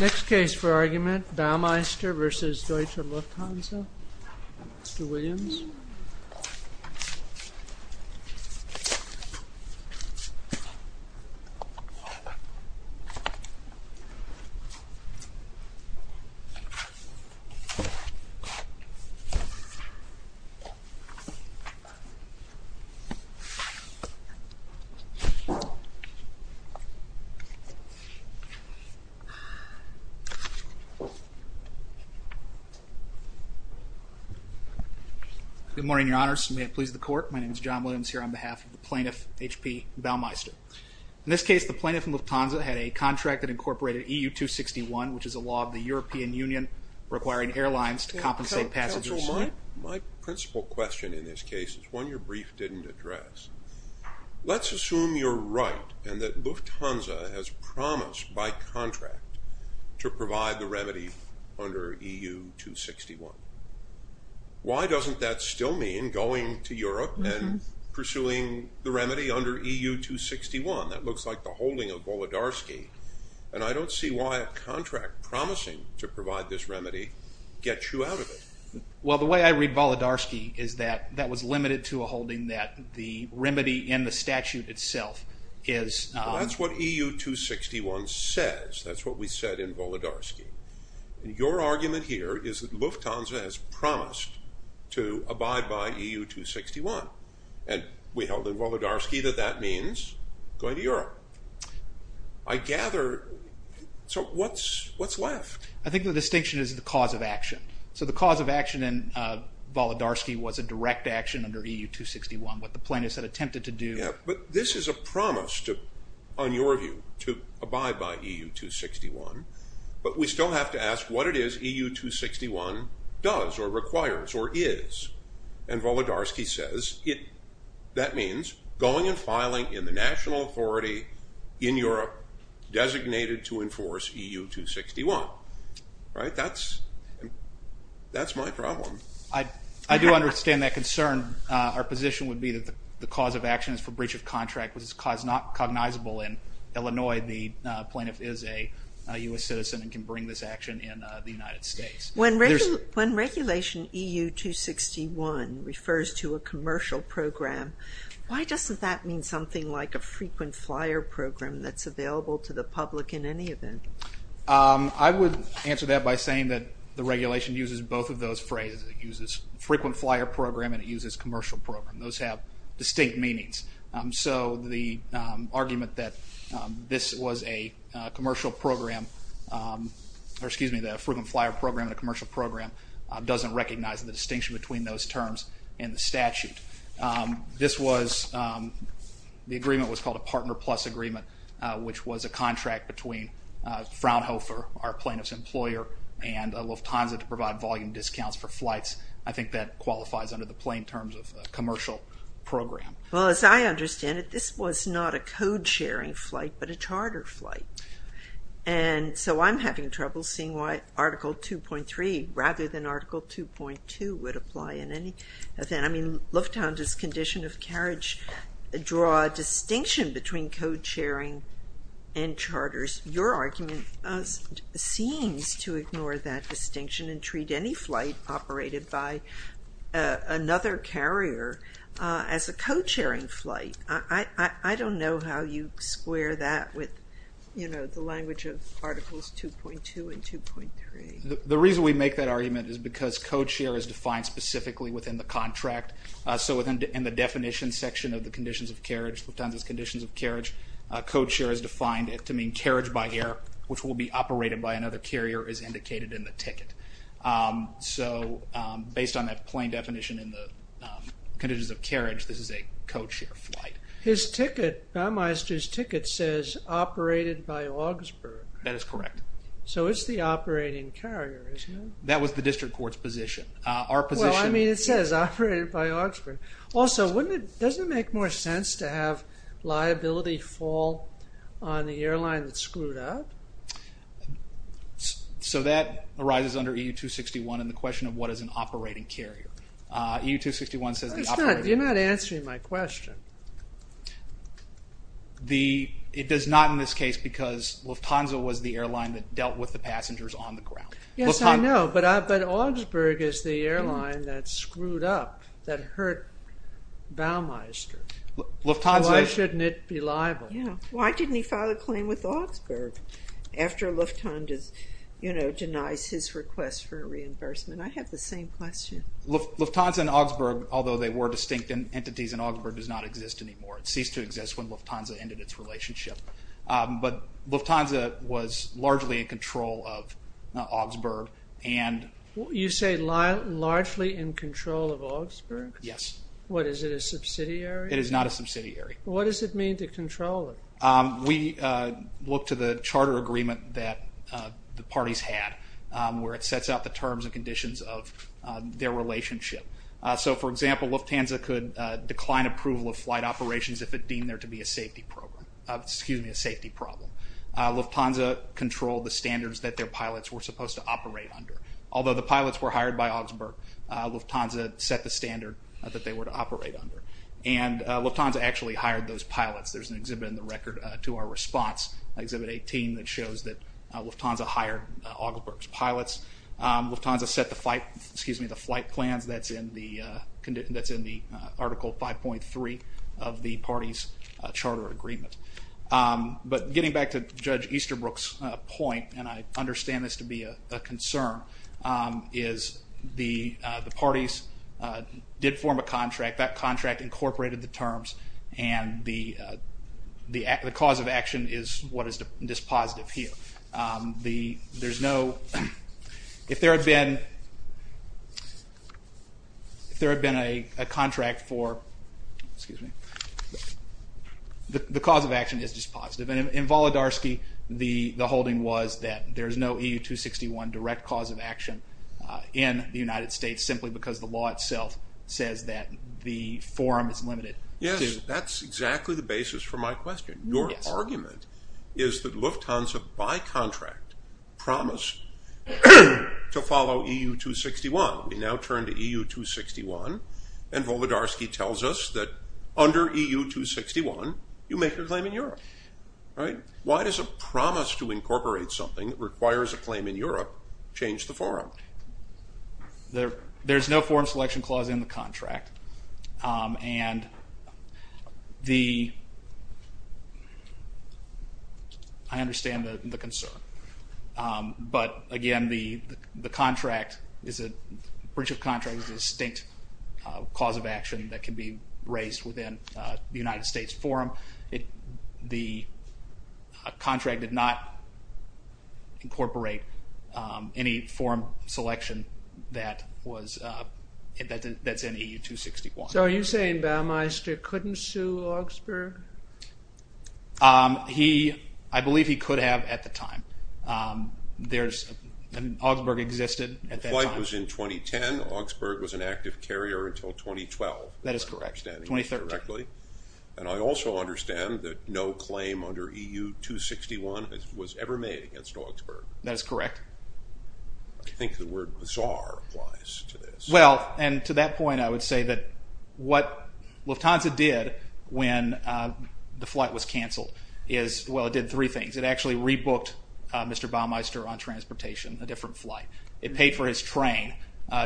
Next case for argument, Baumeister v. Deutsche Lufthansa, Mr. Williams. Good morning, Your Honors, may it please the court, my name is John Williams here on behalf of the plaintiff, H.P. Baumeister. In this case, the plaintiff and Lufthansa had a contract that incorporated EU-261, which is a law of the European Union requiring airlines to compensate passengers. Counsel, my principle question in this case is one your brief didn't address. Let's assume you're right and that Lufthansa has promised by contract to provide the remedy under EU-261. Why doesn't that still mean going to Europe and pursuing the remedy under EU-261? That looks like the holding of Volodarsky, and I don't see why a contract promising to provide this remedy gets you out of it. Well, the way I read Volodarsky is that that was limited to a holding that the remedy in the statute itself is... That's what EU-261 says, that's what we said in Volodarsky. Your argument here is that Lufthansa has promised to abide by EU-261, and we held in Volodarsky that that means going to Europe. I gather... So what's left? I think the distinction is the cause of action. So the cause of action in Volodarsky was a direct action under EU-261, what the plaintiffs had attempted to do. But this is a promise on your view to abide by EU-261, but we still have to ask what it is EU-261 does or requires or is. And Volodarsky says that means going and filing in the national authority in Europe designated to enforce EU-261. That's my problem. I do understand that concern. Our position would be that the cause of action is for breach of contract, which is a cause not cognizable in Illinois. The plaintiff is a U.S. citizen and can bring this action in the United States. When regulation EU-261 refers to a commercial program, why doesn't that mean something like a frequent flyer program that's available to the public in any event? I would answer that by saying that the regulation uses both of those phrases. It uses frequent flyer program and it uses commercial program. Those have distinct meanings. So the argument that this was a commercial program, or excuse me, that a frequent flyer program and a commercial program doesn't recognize the distinction between those terms in the statute. This was, the agreement was called a partner plus agreement, which was a contract between Fraunhofer, our plaintiff's employer, and Lufthansa to provide volume discounts for flights. I think that qualifies under the plain terms of a commercial program. Well, as I understand it, this was not a code sharing flight, but a charter flight. And so I'm having trouble seeing why Article 2.3 rather than Article 2.2 would apply in any event. Lufthansa's condition of carriage draw a distinction between code sharing and charters. Your argument seems to ignore that distinction and treat any flight operated by another carrier as a code sharing flight. I don't know how you square that with the language of Articles 2.2 and 2.3. The reason we make that argument is because code share is defined specifically within the contract. So in the definition section of the conditions of carriage, Lufthansa's conditions of carriage, code share is defined to mean carriage by air, which will be operated by another carrier as indicated in the ticket. So based on that plain definition in the conditions of carriage, this is a code share flight. His ticket, Baumeister's ticket says operated by Augsburg. That is correct. So it's the operating carrier, isn't it? That was the district court's position. I mean it says operated by Augsburg. Also, doesn't it make more sense to have liability fall on the airline that screwed up? So that arises under EU 261 and the question of what is an operating carrier. You're not answering my question. It does not in this case because Lufthansa was the airline that dealt with the passengers on the ground. Yes, I know, but Augsburg is the airline that screwed up, that hurt Baumeister. Why shouldn't it be liable? Why didn't he file a claim with Augsburg after Lufthansa denies his request for a reimbursement? I have the same question. Lufthansa and Augsburg, although they were distinct entities and Augsburg does not exist anymore. It ceased to exist when Lufthansa ended its relationship. But Lufthansa was largely in control of Augsburg. You say largely in control of Augsburg? Yes. What, is it a subsidiary? It is not a subsidiary. What does it mean to control it? We look to the charter agreement that the parties had where it sets out the terms and conditions of their relationship. So for example, Lufthansa could decline approval of flight operations if it deemed there to be a safety program. Excuse me, a safety problem. Lufthansa controlled the standards that their pilots were supposed to operate under. Although the pilots were hired by Augsburg, Lufthansa set the standard that they were to operate under. And Lufthansa actually hired those pilots. There's an exhibit in the record to our response, Exhibit 18, that shows that Lufthansa hired Augsburg's pilots. Lufthansa set the flight plans that's in the Article 5.3 of the parties charter agreement. But getting back to Judge Easterbrook's point, and I understand this to be a concern, is the parties did form a contract. That contract incorporated the terms. And the cause of action is what is dispositive here. The, there's no, if there had been, if there had been a contract for, excuse me, the cause of action is dispositive. And in Volodarsky, the holding was that there's no EU 261 direct cause of action in the United States, simply because the law itself says that the forum is limited. Yes, that's exactly the basis for my question. Your argument is that Lufthansa, by contract, promised to follow EU 261. We now turn to EU 261, and Volodarsky tells us that under EU 261, you make your claim in Europe, right? Why does a promise to incorporate something that requires a claim in Europe change the forum? There's no forum selection clause in the contract. And the, I understand the concern. But again, the contract is a, a breach of contract is a distinct cause of action that can be raised within the United States forum. The contract did not incorporate any forum selection that was, that's in EU 261. So are you saying Baumeister couldn't sue Augsburg? He, I believe he could have at the time. There's, Augsburg existed at that time. The flight was in 2010. Augsburg was an active carrier until 2012. That is correct. 2013. And I also understand that no claim under EU 261 was ever made against Augsburg. That is correct. I think the word bizarre applies to this. Well, and to that point, I would say that what Lufthansa did when the flight was cancelled is, well, it did three things. It actually rebooked Mr. Baumeister on transportation, a different flight. It paid for his train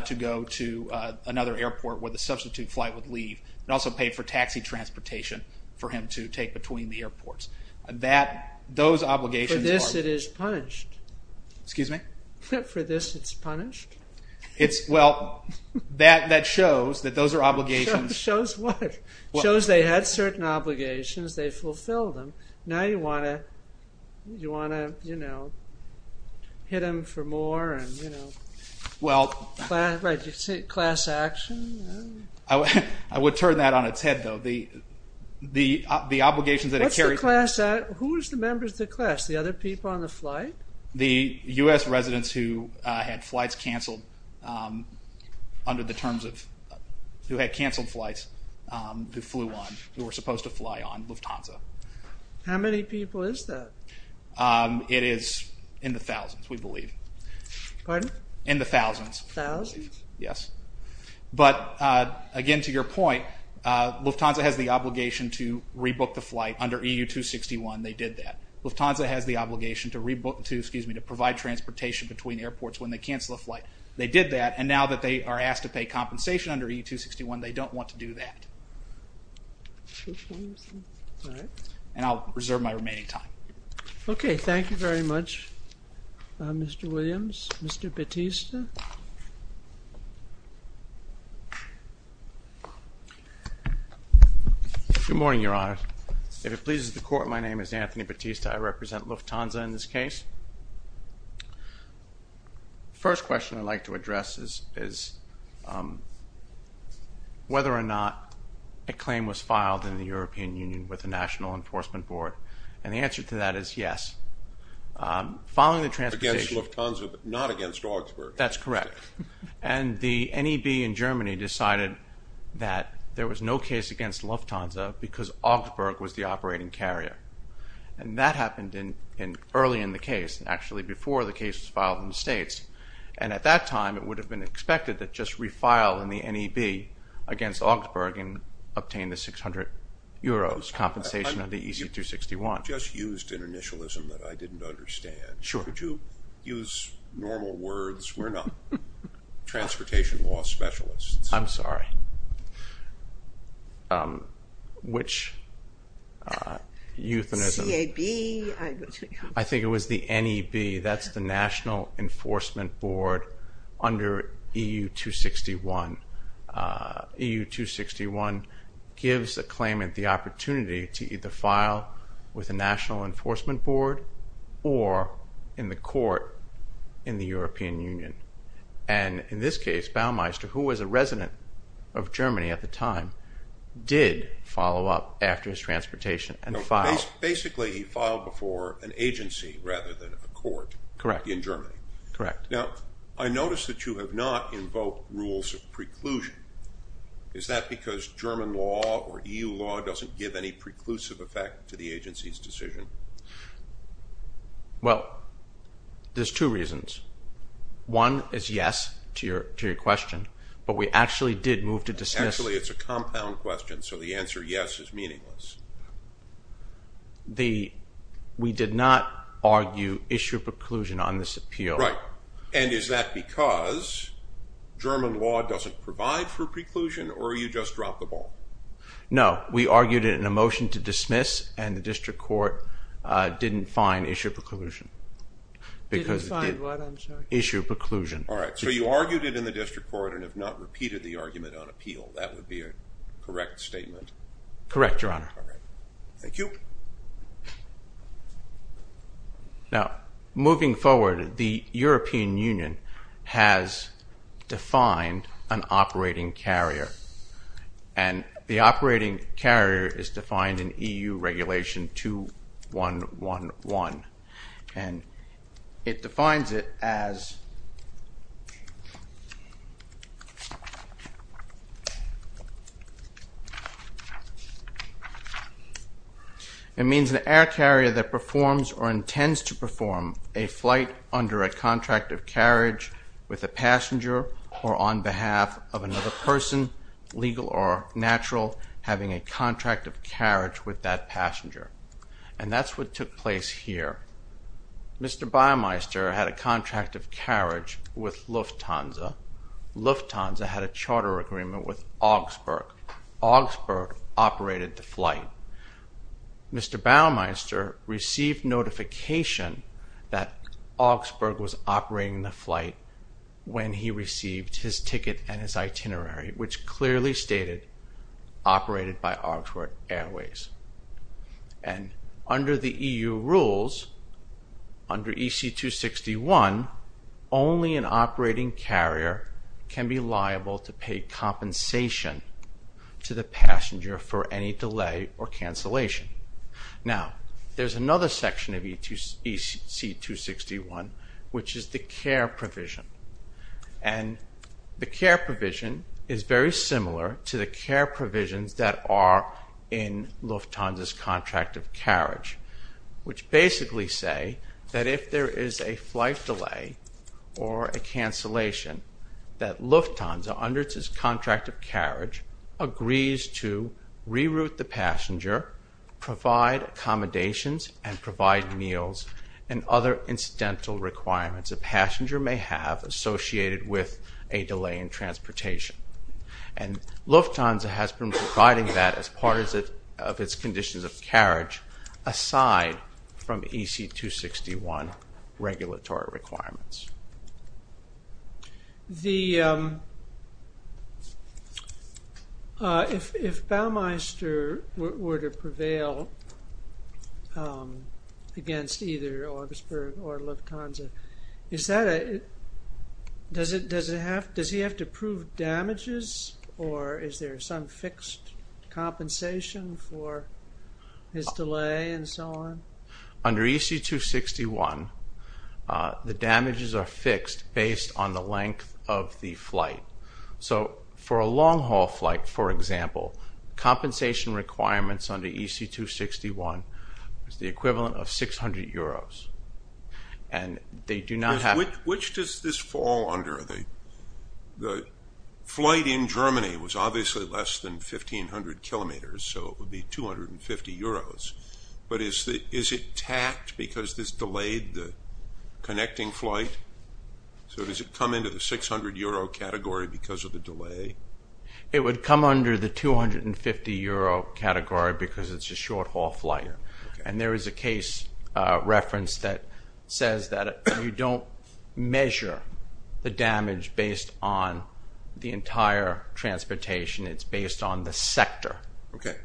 to go to another airport where the substitute flight would leave. It also paid for taxi transportation for him to take between the airports. That, those obligations. For this it is punished. Excuse me? For this it's punished? It's, well, that shows that those are obligations. Shows what? Shows they had certain obligations. They fulfilled them. Now you want to, you want to, you know, hit him for more and, you know. Well. Right, class action. I would, I would turn that on its head though. The, the, the obligations that it carries. What's the class, who is the members of the class? The other people on the flight? The US residents who had flights cancelled under the terms of, who had cancelled flights who flew on, who were supposed to fly on Lufthansa. How many people is that? It is in the thousands, we believe. Pardon? In the thousands. Thousands? Yes. But, again, to your point, Lufthansa has the obligation to rebook the flight under EU 261, they did that. Lufthansa has the obligation to rebook, to, excuse me, to provide transportation between airports when they cancel a flight. They did that and now that they are asked to pay compensation under EU 261, they don't want to do that. All right. And I'll reserve my remaining time. Okay, thank you very much, Mr. Williams. Mr. Bautista? Good morning, Your Honor. If it pleases the court, my name is Anthony Bautista. I represent Lufthansa in this case. First question I'd like to address is whether or not a claim was filed in the European Union with the National Enforcement Board. And the answer to that is yes. Following the transportation- Against Lufthansa, but not against Augsburg. That's correct. And the NEB in Germany decided that there was no case against Lufthansa because Augsburg was the operating carrier. And that happened early in the case, actually before the case was filed in the States. And at that time, it would have been expected that just refile in the NEB against Augsburg and obtain the 600 euros compensation of the EC 261. Just used an initialism that I didn't understand. Sure. Could you use normal words? We're not transportation law specialists. I'm sorry. Which euthanism- CAB. I think it was the NEB. That's the National Enforcement Board under EU 261. EU 261 gives a claimant the opportunity to either file with the National Enforcement Board or in the court in the European Union. And in this case, Baumeister, who was a resident of Germany at the time, did follow up after his transportation and filed- Basically, he filed before an agency rather than a court- Correct. In Germany. Correct. Now, I noticed that you have not invoked rules of preclusion. Is that because German law or EU law doesn't give any preclusive effect to the agency's decision? Well, there's two reasons. One is yes to your question, but we actually did move to dismiss- Actually, it's a compound question, so the answer yes is meaningless. We did not argue issue of preclusion on this appeal. And is that because German law doesn't provide for preclusion or you just dropped the ball? No. We argued it in a motion to dismiss and the district court didn't find issue of preclusion. Didn't find what, I'm sorry? Issue of preclusion. All right. So you argued it in the district court and have not repeated the argument on appeal. That would be a correct statement? Correct, Your Honor. All right. Thank you. Now, moving forward, the European Union has defined an operating carrier. And the operating carrier is defined in EU Regulation 2111 and it defines it as It means an air carrier that performs or intends to perform a flight under a contract of carriage with a passenger or on behalf of another person, legal or natural, having a contract of carriage with that passenger. And that's what took place here. Mr. Baymeister had a contract of carriage with Lufthansa. Lufthansa had a charter agreement with Augsburg. Augsburg operated the flight. Mr. Baymeister received notification that Augsburg was operating the flight when he received his ticket and his itinerary, which clearly stated operated by Augsburg Airways. And under the EU rules, under EC 261, only an operating carrier can be liable to pay compensation to the passenger for any delay or cancellation. Now, there's another section of EC 261, which is the care provision. And the care provision is very similar to the care provisions that are in Lufthansa's contract of carriage, which basically say that if there is a flight delay or a cancellation that Lufthansa, under its contract of carriage, agrees to reroute the passenger, provide accommodations, and provide meals and other incidental requirements a passenger may have associated with a delay in transportation. And Lufthansa has been providing that as part of its conditions of carriage aside from EC 261 regulatory requirements. The, if Baymeister were to prevail against either Augsburg or Lufthansa, is that a, does it have, does he have to prove damages or is there some fixed compensation for his delay and so on? Under EC 261, the damages are fixed based on the length of the flight. So for a long-haul flight, for example, compensation requirements under EC 261 is the equivalent of 600 euros. And they do not have- Which does this fall under? The flight in Germany was obviously less than 1500 kilometers, so it would be 250 euros. But is it tacked because this delayed the connecting flight? So does it come into the 600 euro category because of the delay? It would come under the 250 euro category because it's a short-haul flight. And there is a case reference that says that you don't measure the damage based on the entire transportation, it's based on the sector. Okay.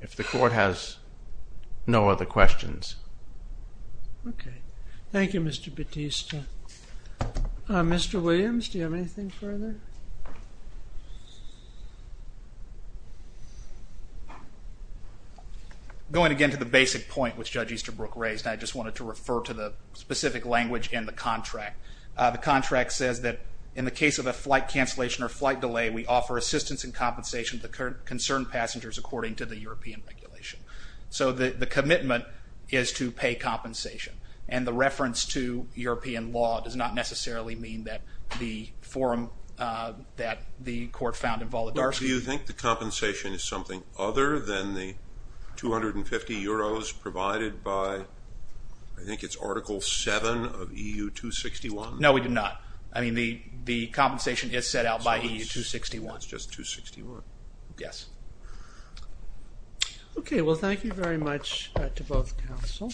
If the court has no other questions. Okay. Thank you, Mr. Battista. Mr. Williams, do you have anything further? Going again to the basic point which Judge Easterbrook raised, I just wanted to refer to the specific language in the contract. The contract says that in the case of a flight cancellation or flight delay, we offer assistance and compensation to the concerned passengers according to the European regulation. So the commitment is to pay compensation. And the reference to European law does not necessarily mean that the forum that the court found involuntary. Do you think the compensation is something other than the 250 euros provided by, I think it's Article 7 of EU 261? No, we do not. I mean, the compensation is set out by EU 261. It's just 261. Yes. Okay. Well, thank you very much to both counsel.